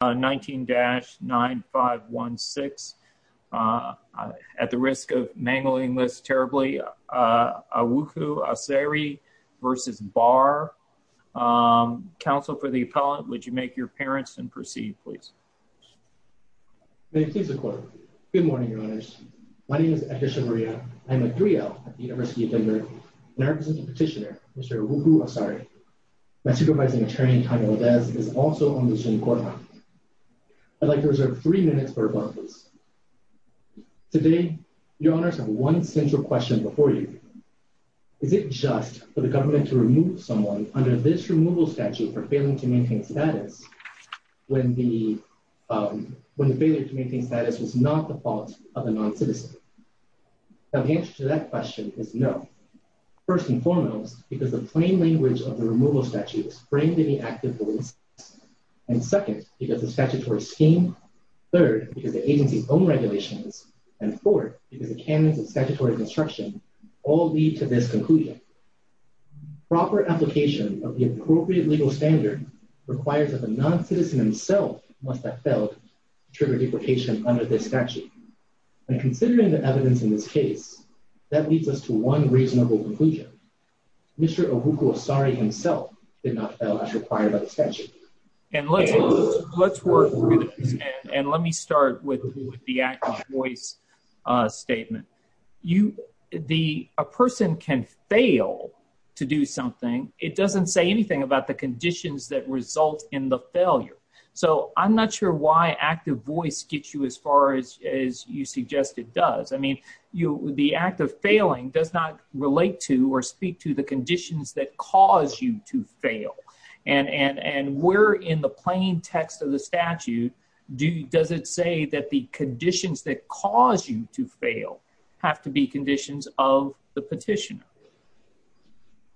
Council for the appellate, would you make your appearance and proceed please? May it please the court. Good morning, your honors. My name is Edesha Maria. I am a 3L at the University of Denver, and I represent the petitioner, Mr. Awuku-Asare. My supervising attorney, Tommy Lodez, is also on the Supreme Court. I am a 3L, and I represent the petitioner, I'd like to reserve three minutes for rebuttals. Today, your honors, I have one central question before you. Is it just for the government to remove someone under this removal statute for failing to maintain status when the failure to maintain status was not the fault of a non-citizen? Now the answer to that question is no. First and foremost, because the plain statutory scheme, third, because the agency's own regulations, and fourth, because the canons of statutory construction all lead to this conclusion. Proper application of the appropriate legal standard requires that the non-citizen himself must have failed to trigger deprecation under this statute. And considering the evidence in this case, that leads us to one reasonable conclusion. Mr. Awuku-Asare himself did not fail as required by the statute. And let's work through this, and let me start with the act of voice statement. A person can fail to do something, it doesn't say anything about the conditions that result in the failure. So I'm not sure why act of voice gets you as far as you suggest it does. I mean, the act of failing does not relate to or speak to the conditions that cause you to fail. And we're in the plain text of the statute, does it say that the conditions that cause you to fail have to be conditions of the petitioner?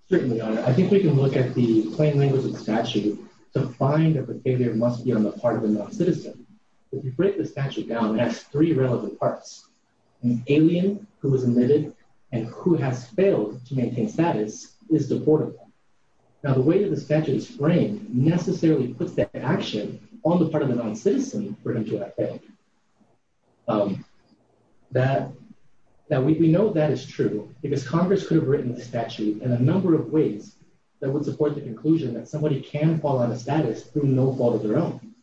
Certainly, Your Honor. I think we can look at the plain language of the statute to find that the failure must be on the part of a non-citizen. If you break the statute down, it has three relevant parts. An alien who was admitted and who has failed to maintain status is deportable. Now the way that the statute is framed necessarily puts the action on the part of the non-citizen for him to have failed. We know that is true, because Congress could have written the statute in a number of ways that would support the conclusion that somebody can fall out of status through no fault of their own.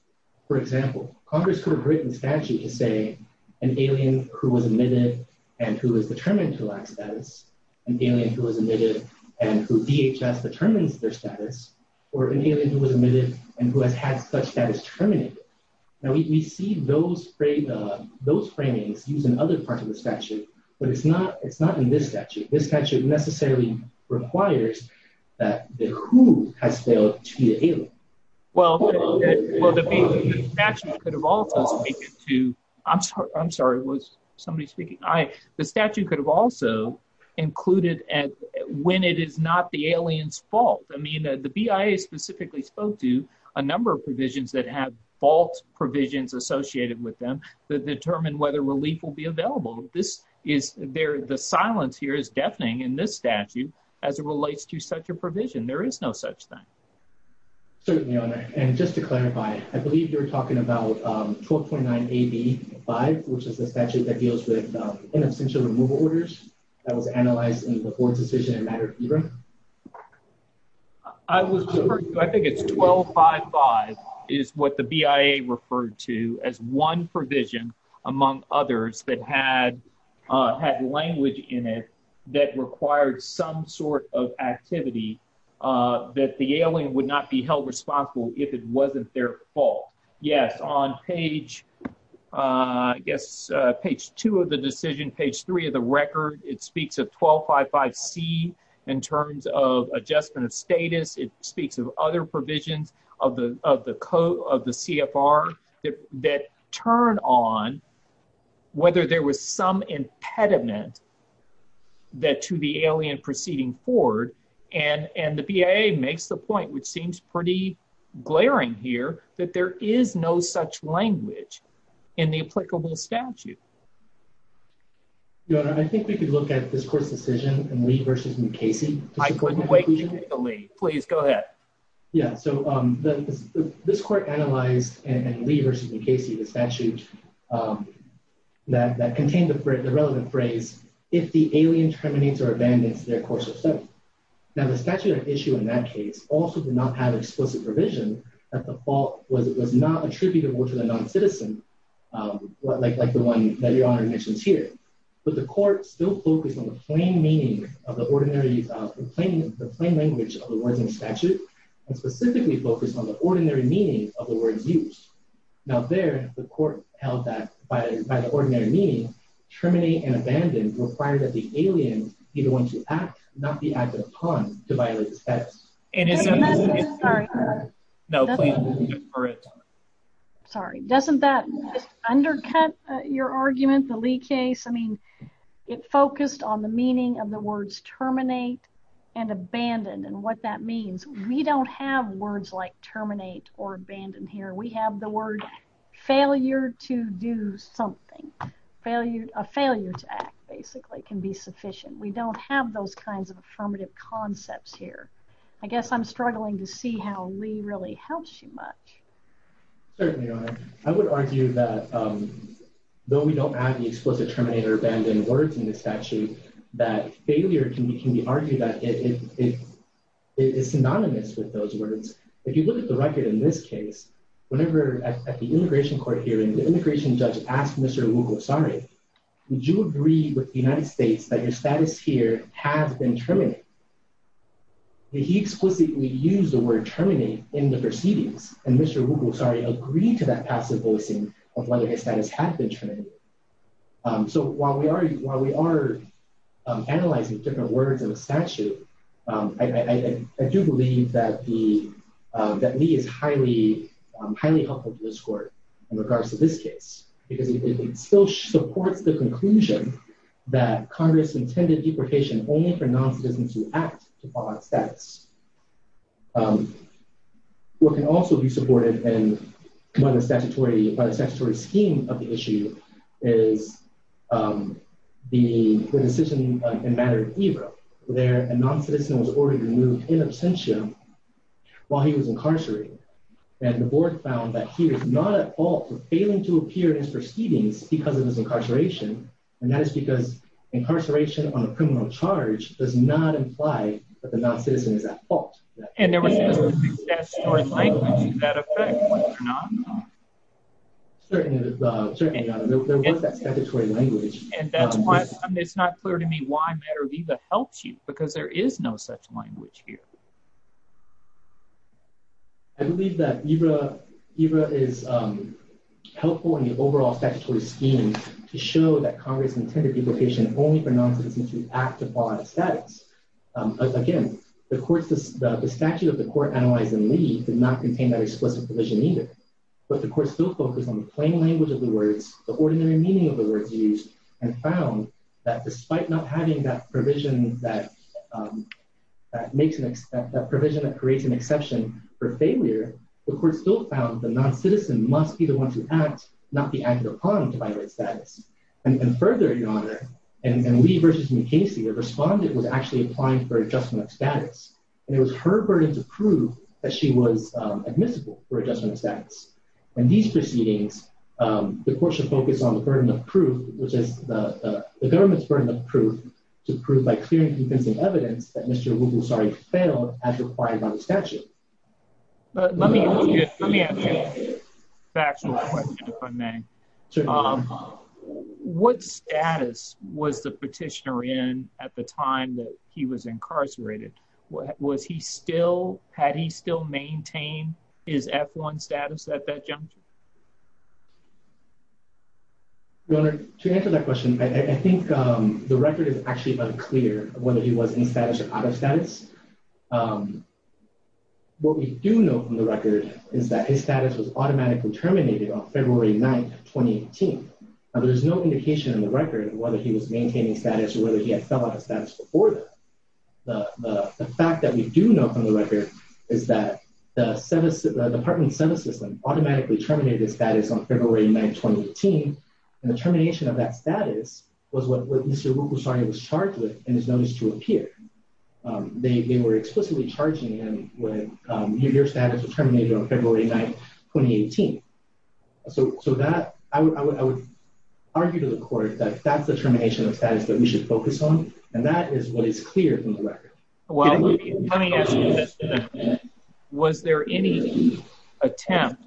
For example, Congress could have written the statute to say an alien who was admitted and who is determined to have failed to maintain status is a non-citizen and who DHS determines their status, or an alien who was admitted and who has had such status terminated. Now we see those framings used in other parts of the statute, but it's not in this statute. This statute necessarily requires that the who has failed to be the alien. Well, the statute could have also included, I'm sorry, was somebody speaking? The statute could have also included when it is not the alien's fault. I mean, the BIA specifically spoke to a number of provisions that have fault provisions associated with them to determine whether relief will be available. The silence here is deafening in this statute as it relates to such a provision. There is no such thing. Certainly, and just to clarify, I believe you're talking about 12.9 AB 5, which is the I was referring to, I think it's 12.5.5 is what the BIA referred to as one provision among others that had language in it that required some sort of activity that the alien would not be held responsible if it wasn't their fault. Yes, on page, I guess, page two of the decision, page three of the record, it speaks of 12.5.5 C in terms of adjustment of status. It speaks of other provisions of the CFR that turn on whether there was some impediment that to the alien proceeding forward, and the BIA makes the point, which seems pretty in the applicable statute. Your Honor, I think we could look at this court's decision in Lee v. McKasey. I couldn't wait to hear from Lee. Please go ahead. Yeah, so this court analyzed in Lee v. McKasey the statute that contained the relevant phrase, if the alien terminates or abandons their course of study. Now, the statute of issue in that case also did not have explicit provision that the fault was not attributable to the non-citizen, like the one that Your Honor mentions here, but the court still focused on the plain language of the words in the statute and specifically focused on the ordinary meaning of the words used. Now there, the court held that by the ordinary meaning, terminate and abandon required that the alien be the one to act, not be acted upon to violate the statute. Sorry, doesn't that undercut your argument, the Lee case? I mean, it focused on the meaning of the words terminate and abandon and what that means. We don't have words like terminate or abandon here. We have the word failure to do something. A failure to act, basically, can be sufficient. We don't have those kinds of affirmative concepts here. I guess I'm struggling to see how Lee really helps you much. Certainly, Your Honor. I would argue that though we don't have the explicit terminate or abandon words in the statute, that failure can be argued that it is synonymous with those words. If you look at the record in this case, whenever at the immigration court hearing, the immigration judge asked Mr. Wugosari, would you agree with the United States that your status here has been terminated? He explicitly used the word terminate in the proceedings and Mr. Wugosari agreed to that passive voicing of whether his status had been terminated. So while we are analyzing different words in the statute, I do believe that Lee is highly helpful to this court in regards to this case because it still supports the conclusion that Congress intended deportation only for non-citizens who act to follow up status. What can also be supported by the statutory scheme of the issue is the decision in matter of Ebro where a non-citizen was already removed in absentia while he was incarcerated and the board found that he was not at fault for failing to appear in his proceedings because of his incarceration and that is because incarceration on a criminal charge does not imply that the non-citizen is at fault. And there was statutory language in that effect, was there not? Certainly not. There was that statutory language. And that's why it's not clear to me why matter of Ebro helps you because there is no such language here. I believe that Ebro is helpful in the overall statutory scheme to show that Congress intended deportation only for non-citizens who act to follow up status. Again, the statute of the court analyzed in Lee did not contain that explicit provision either, but the court still focused on the plain language of the words, the ordinary meaning of the words used and found that despite not having that provision that creates an exception for failure, the court still found the non-citizen must be the one to act, not be acted upon to violate the statute of status. And further, Your Honor, in Lee v. McKinsey, the respondent was actually applying for adjustment of status. And it was her burden to prove that she was admissible for adjustment of status. In these proceedings, the court should focus on the burden of proof, which is the government's burden of proof to prove by clear and convincing evidence that Mr. Wugulsari failed as required by the statute. Let me ask you a factual question, if I may. What status was the petitioner in at the time that he was incarcerated? Was he still, had he still maintained his F-1 status at that juncture? Your Honor, to answer that question, I think the record is actually unclear whether he was in status or out of status. What we do know from the record is that his status was automatically terminated on February 9th, 2018. Now, there is no indication in the record whether he was maintaining status or whether he had fell out of status before that. The fact that we do know from the record is that the department's sentence system automatically terminated his status on February 9th, 2018. And the termination of that status was what Mr. Wugulsari was charged with in his notice to appear. They were explicitly charging him with, your status was terminated on February 9th, 2018. So that, I would argue to the court that that's the termination of status that we should focus on, and that is what is clear from the record. Well, let me ask you this, was there any attempt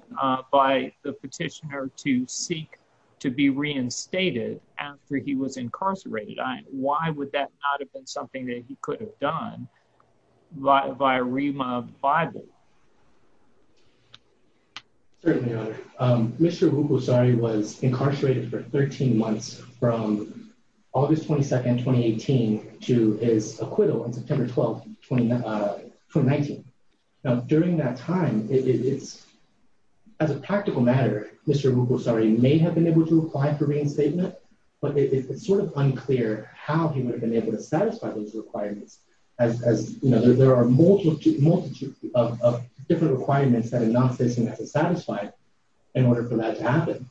by the petitioner to seek to be reinstated after he was incarcerated? Why would that not have been something that he could have done via Rima Bible? Certainly, Your Honor. Mr. Wugulsari was incarcerated for 13 months from August 22nd, 2018 to his acquittal on September 12th, 2019. Now, during that time, it's, as a practical matter, Mr. Wugulsari may have been able to But it's sort of unclear how he would have been able to satisfy those requirements as, you know, there are a multitude of different requirements that a non-citizen has to satisfy in order for that to happen.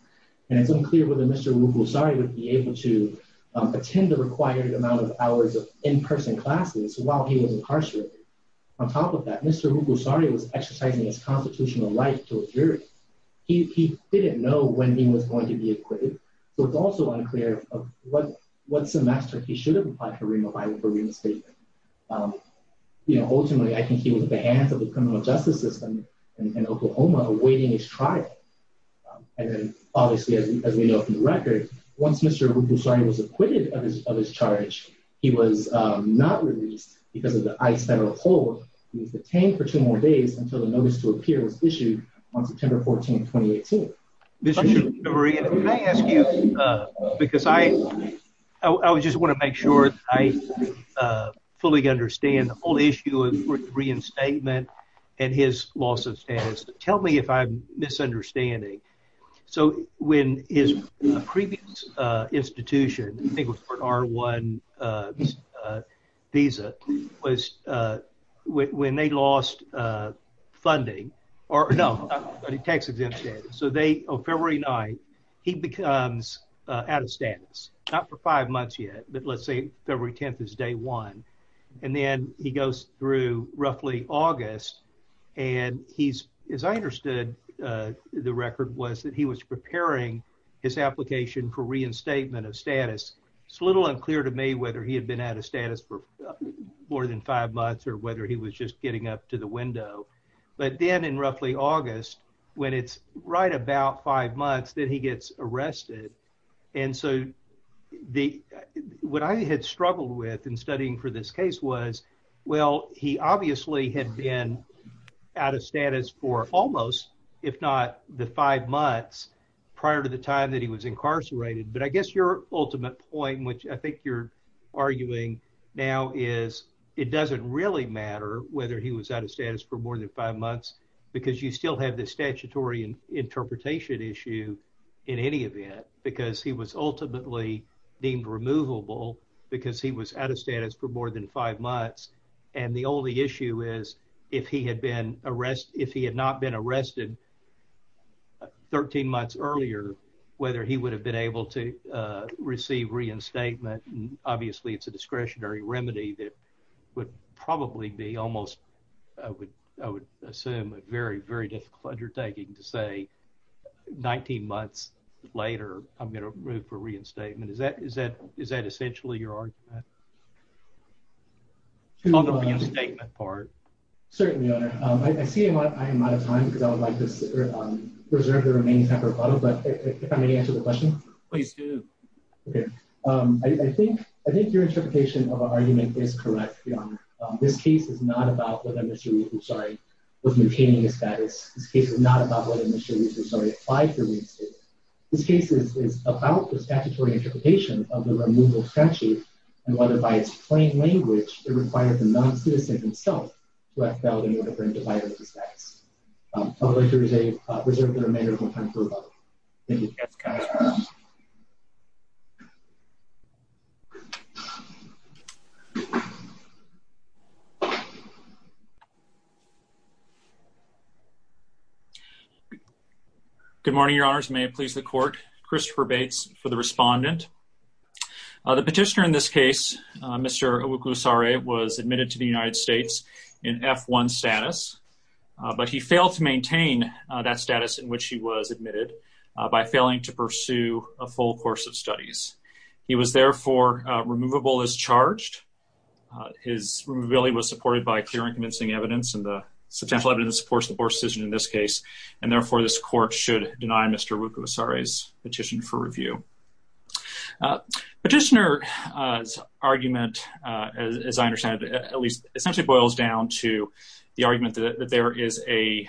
And it's unclear whether Mr. Wugulsari would be able to attend the required amount of hours of in-person classes while he was incarcerated. On top of that, Mr. Wugulsari was exercising his constitutional right to a jury. He didn't know when he was going to be acquitted. So it's also unclear what semester he should have applied for Rima Bible for reinstatement. You know, ultimately, I think he was at the hands of the criminal justice system in Oklahoma awaiting his trial. And then, obviously, as we know from the record, once Mr. Wugulsari was acquitted of his charge, he was not released because of the ICE federal hold. He was detained for two more days until the notice to appear was issued on September 14, 2018. Mr. Shulman, may I ask you, because I just want to make sure I fully understand the whole issue of reinstatement and his loss of status. Tell me if I'm misunderstanding. So when his previous institution, I think it was for an R1 visa, was when they lost funding, or no, tax exempt status. So they, on February 9th, he becomes out of status. Not for five months yet, but let's say February 10th is day one. And then he goes through roughly August, and he's, as I understood the record, was that he was preparing his application for reinstatement of status. It's a little unclear to me whether he had been out of status for more than five months or whether he was just getting up to the window. But then in roughly August, when it's right about five months, then he gets arrested. And so what I had struggled with in studying for this case was, well, he obviously had been out of status for almost, if not the five months, prior to the time that he was incarcerated. But I guess your ultimate point, which I think you're arguing now, is it doesn't really matter whether he was out of status for more than five months because you still have the statutory interpretation issue in any event. Because he was ultimately deemed removable because he was out of status for more than five months. And the only issue is if he had not been arrested 13 months earlier, whether he would have been able to receive reinstatement. Obviously, it's a discretionary remedy that would probably be almost, I would assume, a very, very difficult undertaking to say 19 months later, I'm going to move for reinstatement. Is that essentially your argument? On the reinstatement part. Certainly, Your Honor. I see I am out of time because I would like to reserve the remaining time for follow-up. But if I may answer the question. Please do. Okay. I think your interpretation of our argument is correct, Your Honor. This case is not about whether Mr. Rieser was retaining his status. This case is not about whether Mr. Rieser applied for reinstatement. This case is about the statutory interpretation of the removal statute and whether by its plain language it required the non-citizen himself to have failed in order for him to violate his status. Thank you. Yes, Counselor. Good morning, Your Honors. May it please the Court. Christopher Bates for the respondent. The petitioner in this case, Mr. Owuklusare, was admitted to the United States in F-1 status, but he failed to maintain that status in which he was admitted by failing to pursue a full course of studies. He was therefore removable as charged. His removability was supported by clear and convincing evidence and the substantial evidence supports the poor decision in this case, and therefore this Court should deny Mr. Owuklusare's petition for review. Petitioner's argument, as I understand it, essentially boils down to the argument that there is a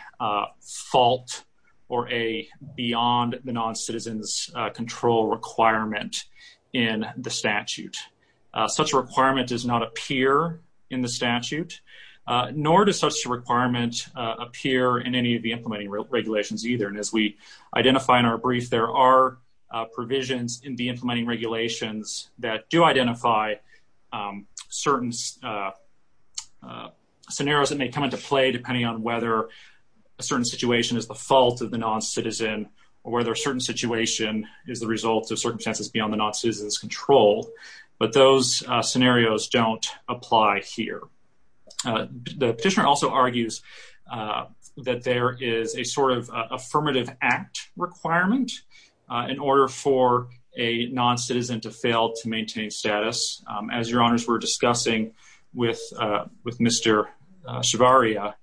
fault or a beyond the non-citizen's control requirement in the statute. Such a requirement does not appear in the statute, nor does such a requirement appear in any of the implementing regulations either, and as we identify in our brief, there are provisions in the implementing regulations that do identify certain scenarios that may come into play depending on whether a certain situation is the fault of the non-citizen or whether a certain situation is the result of circumstances beyond the non-citizen's control, but those scenarios don't apply here. The petitioner also argues that there is a sort of affirmative act requirement in order for a non-citizen to fail to maintain status. As Your Honors were discussing with Mr. Chevarria,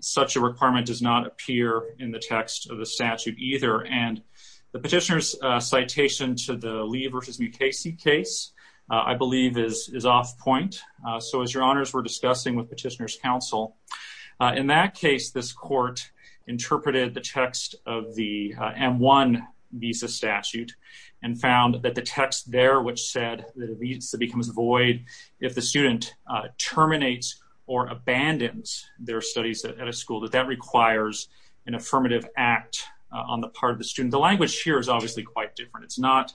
such a requirement does not appear in the text of the statute either, and the petitioner's citation to the Lee versus Mukasey case, I believe, is off point. In that case, this court interpreted the text of the M-1 visa statute and found that the text there which said that a visa becomes void if the student terminates or abandons their studies at a school, that that requires an affirmative act on the part of the student. The language here is obviously quite different. It's not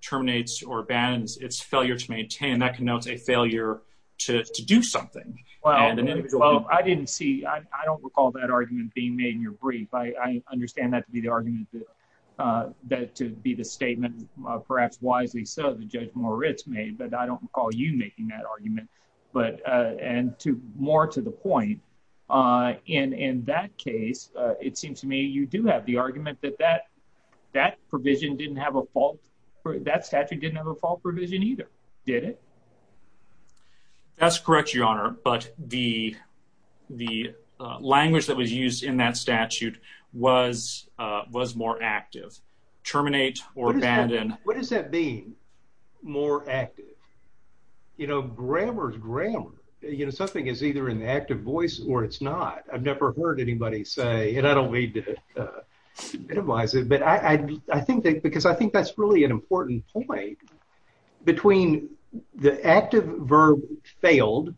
terminates or abandons. It's failure to maintain. That connotes a failure to do something. Well, I didn't see. I don't recall that argument being made in your brief. I understand that to be the argument that to be the statement, perhaps wisely so, that Judge Moritz made, but I don't recall you making that argument. And more to the point, in that case, it seems to me you do have the argument that that provision didn't have a fault. That statute didn't have a fault provision either, did it? That's correct, Your Honor. But the language that was used in that statute was more active. Terminate or abandon. What does that mean, more active? You know, grammar is grammar. You know, something is either in the active voice or it's not. I've never heard anybody say, and I don't mean to minimize it, because I think that's really an important point. Between the active verb failed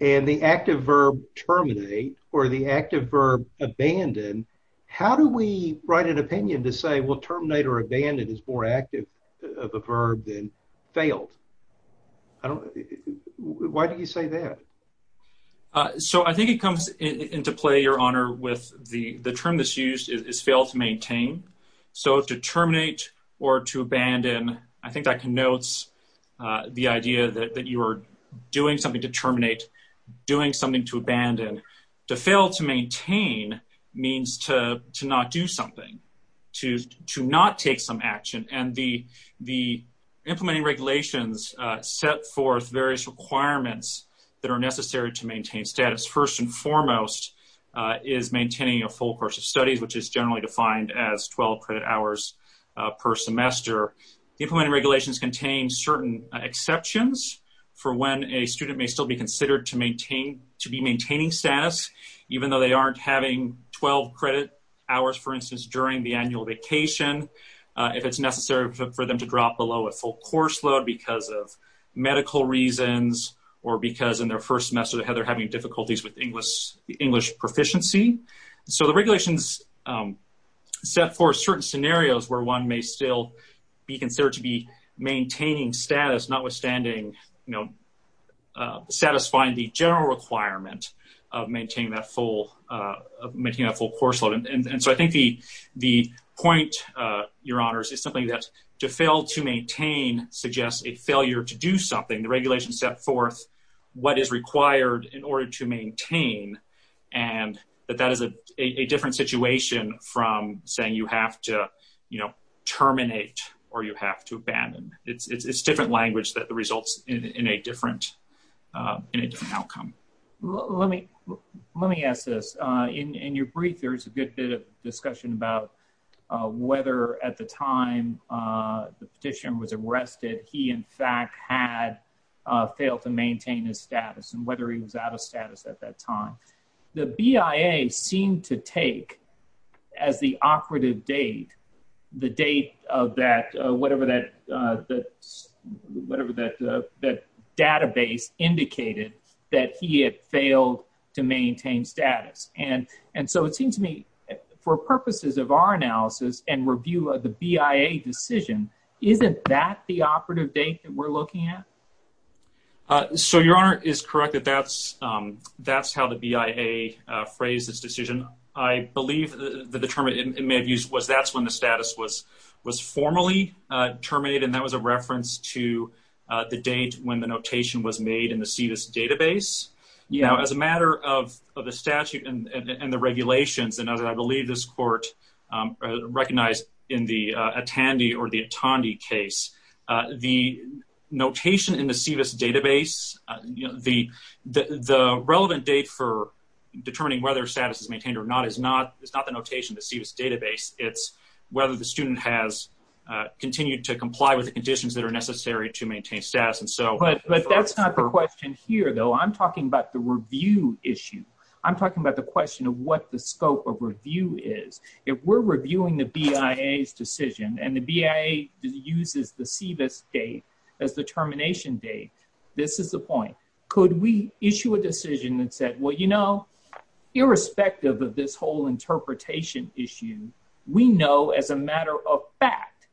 and the active verb terminate or the active verb abandon, how do we write an opinion to say, well, terminate or abandon is more active of a verb than failed? Why do you say that? So I think it comes into play, Your Honor, with the term that's used is fail to maintain. So to terminate or to abandon, I think that connotes the idea that you are doing something to terminate, doing something to abandon. To fail to maintain means to not do something, to not take some action. And the implementing regulations set forth various requirements that are necessary to maintain status. First and foremost is maintaining a full course of studies, which is generally defined as 12 credit hours per semester. The implementing regulations contain certain exceptions for when a student may still be considered to be maintaining status, even though they aren't having 12 credit hours, for instance, during the annual vacation. If it's necessary for them to drop below a full course load because of medical reasons or because in their first semester they're having difficulties with English proficiency. So the regulations set forth certain scenarios where one may still be considered to be maintaining status, notwithstanding, you know, satisfying the general requirement of maintaining that full course load. And so I think the point, Your Honors, is something that to fail to maintain suggests a failure to do something. The regulations set forth what is required in order to maintain. And that that is a different situation from saying you have to, you know, terminate or you have to abandon. It's different language that results in a different outcome. Let me ask this. In your brief, there is a good bit of discussion about whether at the time the petitioner was arrested, he in fact had failed to maintain his status, and whether he was out of status at that time. The BIA seemed to take as the operative date, the date of that whatever that database indicated that he had failed to maintain status. And so it seems to me for purposes of our analysis and review of the BIA decision, isn't that the operative date that we're looking at? So Your Honor is correct that that's how the BIA phrased this decision. I believe the term it may have used was that's when the status was formally terminated, and that was a reference to the date when the notation was made in the CVS database. You know, as a matter of the statute and the regulations, and as I believe this court recognized in the Atandi or the Atandi case, the notation in the CVS database, the relevant date for determining whether status is maintained or not is not the notation of the CVS database. It's whether the student has continued to comply with the conditions that are necessary to maintain status. But that's not the question here, though. I'm talking about the review issue. I'm talking about the question of what the scope of review is. If we're reviewing the BIA's decision, and the BIA uses the CVS date as the termination date, this is the point. Could we issue a decision that said, well, you know, irrespective of this whole interpretation issue, we know as a matter of fact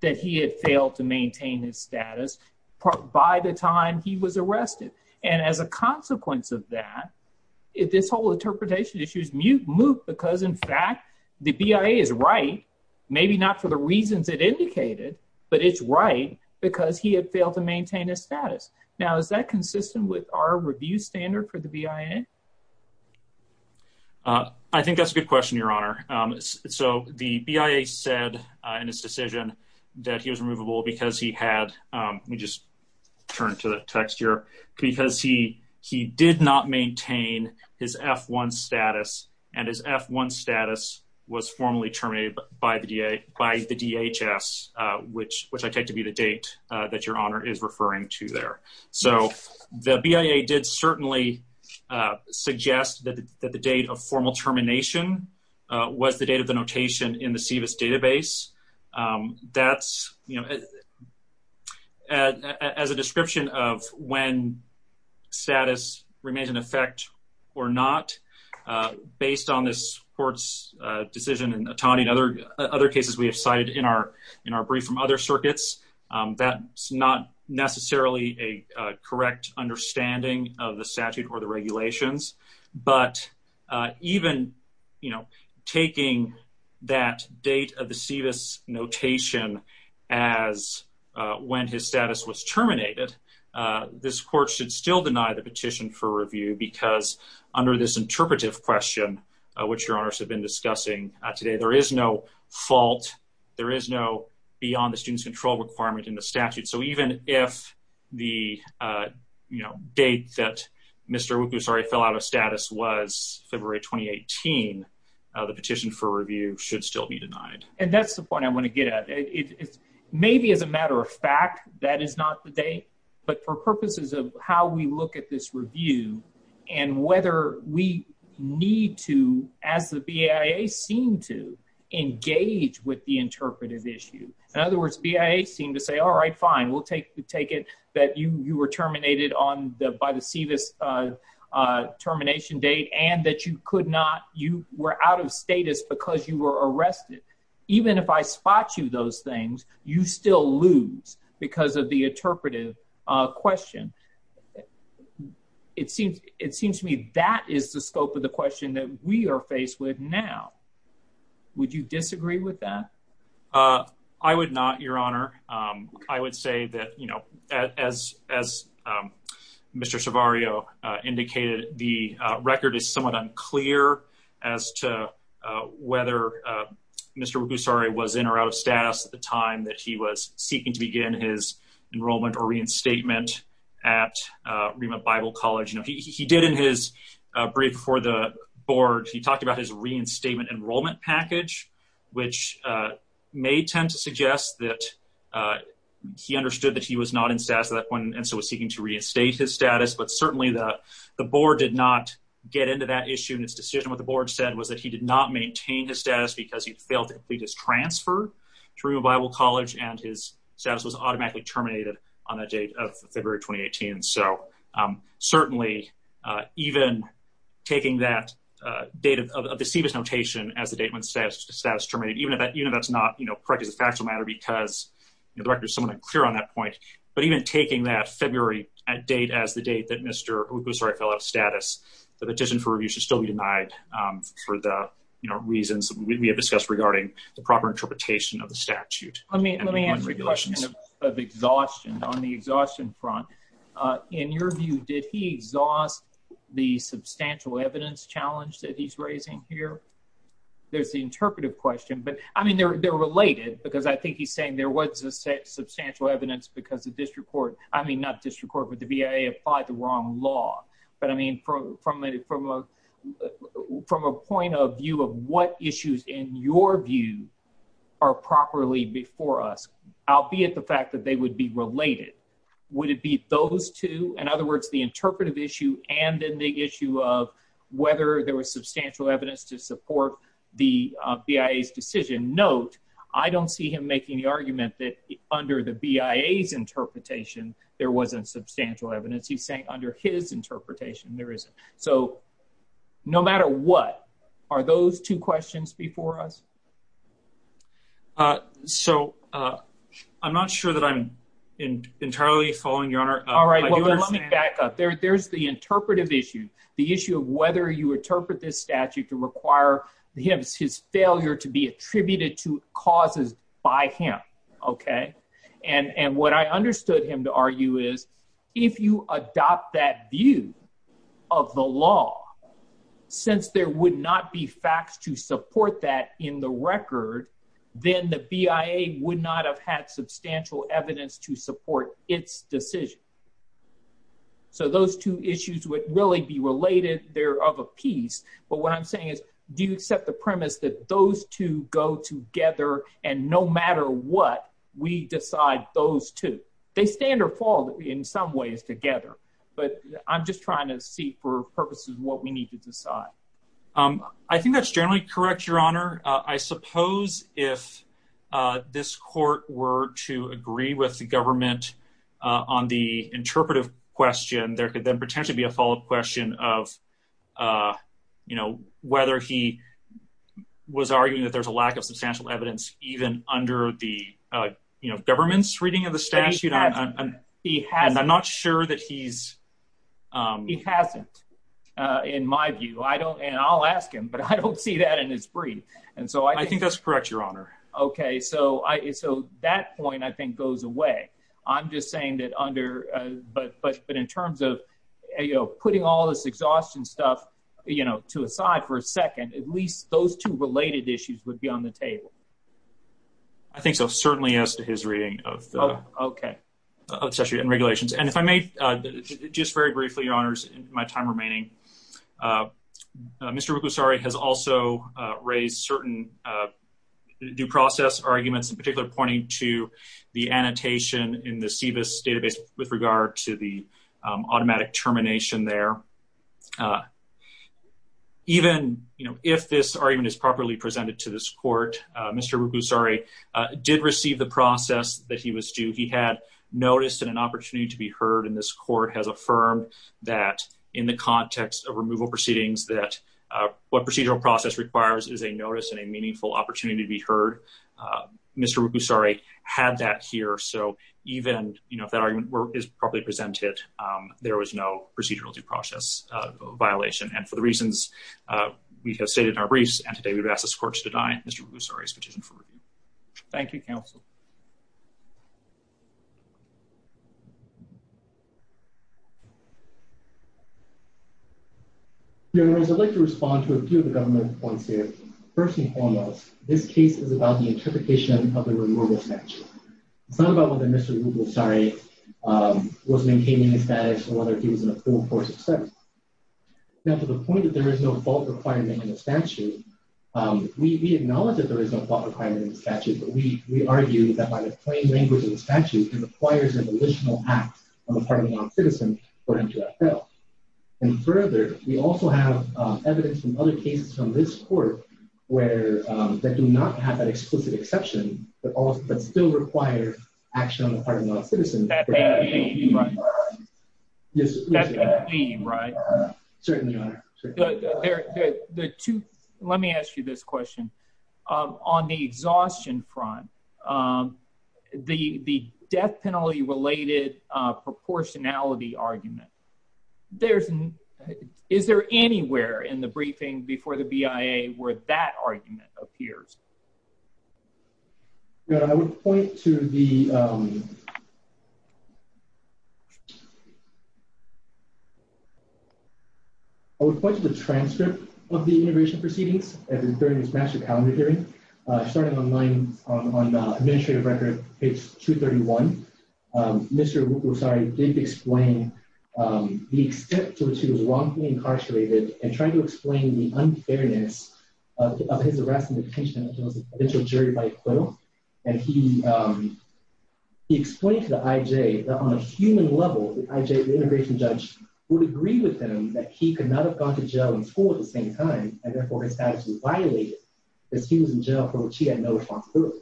that he had failed to maintain his status by the time he was arrested. And as a consequence of that, if this whole interpretation issue is moot, because in fact the BIA is right, maybe not for the reasons it indicated, but it's right because he had failed to maintain his status. Now, is that consistent with our review standard for the BIA? I think that's a good question, Your Honor. So the BIA said in its decision that he was removable because he had, let me just turn to the text here, because he did not maintain his F-1 status, and his F-1 status was formally terminated by the DHS, which I take to be the date that Your Honor is referring to there. So the BIA did certainly suggest that the date of formal termination was the date of the notation in the CVS database. That's, you know, as a description of when status remains in effect or not, based on this court's decision in Otani and other cases we have cited in our brief from other circuits, that's not necessarily a correct understanding of the statute or the regulations. But even, you know, taking that date of the CVS notation as when his status was terminated, this court should still deny the petition for review because under this interpretive question, which Your Honors have been discussing today, there is no fault, there is no beyond the student's control requirement in the statute. So even if the, you know, date that Mr. Wukusare fell out of status was February 2018, the petition for review should still be denied. And that's the point I want to get at. Maybe as a matter of fact, that is not the date, but for purposes of how we look at this review and whether we need to, as the BIA seemed to, engage with the interpretive issue. In other words, BIA seemed to say, all right, fine. We'll take it that you were terminated on the, by the CVS termination date and that you could not, you were out of status because you were arrested. Even if I spot you those things, you still lose because of the interpretive question. It seems to me that is the scope of the question that we are faced with now. Would you disagree with that? I would not, your honor. I would say that, you know, as, as Mr. Savario indicated, the record is somewhat unclear as to whether Mr. Wukusare was in or out of status at the time that he was seeking to begin his enrollment or reinstatement at Rima Bible college. You know, he, he did in his brief for the board, he talked about his reinstatement enrollment package, which may tend to suggest that he understood that he was not in status at that point. And so it was seeking to reinstate his status, but certainly the board did not get into that issue. And its decision with the board said was that he did not maintain his status because he'd failed to complete his transfer through Bible college. And his status was automatically terminated on that date of February, 2018. So certainly even taking that, the date of the CVS notation as the date when status terminated, even if that's not correct as a factual matter, because the record is somewhat unclear on that point, but even taking that February date as the date that Mr. Wukusare fell out of status, the petition for review should still be denied for the reasons we have discussed regarding the proper interpretation of the statute. Let me ask you a question of exhaustion on the exhaustion front. In your view, did he exhaust the substantial evidence challenge that he's raising here? There's the interpretive question, but I mean, they're, they're related because I think he's saying there was a set substantial evidence because the district court, I mean, not district court, but the BIA applied the wrong law. But I mean, from, from a, from a, from a point of view of what issues in your view are properly before us, albeit the fact that they would be related, would it be those two? In other words, the interpretive issue and then the issue of whether there was substantial evidence to support the BIA's decision note, I don't see him making the argument that under the BIA's interpretation, there wasn't substantial evidence. He's saying under his interpretation, there isn't. So no matter what, are those two questions before us? So I'm not sure that I'm in entirely following your honor. All right. Well, let me back up there. There's the interpretive issue, the issue of whether you interpret this statute to require the hips, his failure to be attributed to causes by him. Okay. And what I understood him to argue is if you adopt that view of the law, since there would not be facts to support that in the record, then the BIA would not have had substantial evidence to support its decision. So those two issues would really be related. They're of a piece, but what I'm saying is, do you accept the premise that those two go together and no matter what we decide those two, they stand or fall in some ways together, but I'm just trying to see for purposes of what we need to decide. I think that's generally correct. Your honor. I suppose if this court were to agree with the government on the interpretive question, there could then potentially be a follow-up question of, you know, whether he was arguing that there's a lack of substantial evidence, even under the, you know, government's reading of the statute. And I'm not sure that he's. He hasn't in my view, I don't, and I'll ask him, but I don't see that in his brief. And so I think that's correct. Your honor. Okay. So I, so that point I think goes away. I'm just saying that under, but, but, but in terms of, you know, putting all this exhaustion stuff, you know, to aside for a second, at least those two related issues would be on the table. I think so. Certainly as to his reading of the. Okay. And regulations. And if I may just very briefly, your honors, my time remaining, Mr. Rukusare has also raised certain due process arguments in particular, pointing to the annotation in the CBIS database with regard to the automatic termination there. Even if this argument is properly presented to this court, Mr. Rukusare did receive the process that he was due. He had noticed an opportunity to be heard in this court has affirmed that in the context of removal proceedings, that what procedural process requires is a notice and a meaningful opportunity to be heard. Mr. Rukusare had that here. So even, you know, if that argument is probably presented, there was no procedural due process violation. And for the reasons we have stated in our briefs and today we've asked this court to deny Mr. Rukusare's petition for review. Thank you. Thank you, counsel. I'd like to respond to a few of the government points here. First and foremost, this case is about the interpretation of the removal statute. It's not about whether Mr. Rukusare was maintaining his status or whether he was in a full court success. Now to the point that there is no fault requirement in the statute. We acknowledge that there is a requirement in the statute, but we argue that by the plain language of the statute, it requires an additional act on the part of the non-citizen. And further, we also have evidence from other cases from this court where they do not have that explicit exception, but all, but still require action on the part of non-citizens. Certainly. The two, let me ask you this question. The death penalty related proportionality argument. On the exhaustion front. The death penalty related proportionality argument. There's an, is there anywhere in the briefing before the BIA where that argument appears? Yeah. I would point to the. I would point to the transcript of the integration proceedings. During this master calendar hearing. Starting on mine. On the administrative record. It's two 31. Mr. And he. He explained to the IJ on a human level, the IJ, the integration judge. Would agree with them that he could not have gone to jail in school at the same time. And therefore his status was violated. As he was in jail. She had no responsibility.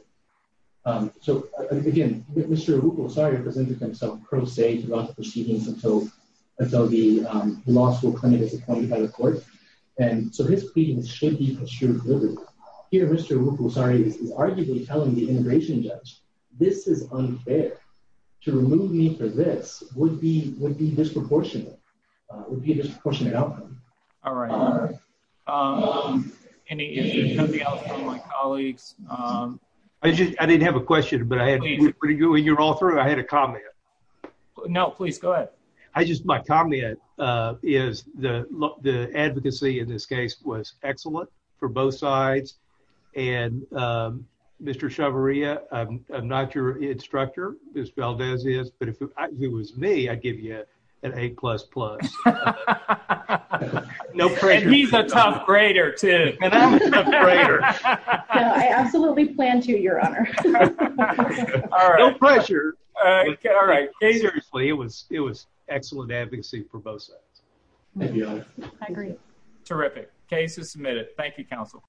So again, Mr. Mr. Sorry. Arguably telling the integration judge. This is unfair. To remove me for this would be, would be disproportionate. All right. I just, I didn't have a question, but I had. You're all through. I had a comment. No, please go ahead. I just, my comment is the. The advocacy in this case was excellent for both sides. And Mr. Chavarria. I'm not your instructor. There's Valdez is, but if it was me, I'd give you. An eight plus plus. No pressure. He's a top grader too. I absolutely plan to your honor. All right. All right. It was, it was excellent advocacy for both sides. Thank you. I agree. Terrific cases submitted. Thank you. Counsel.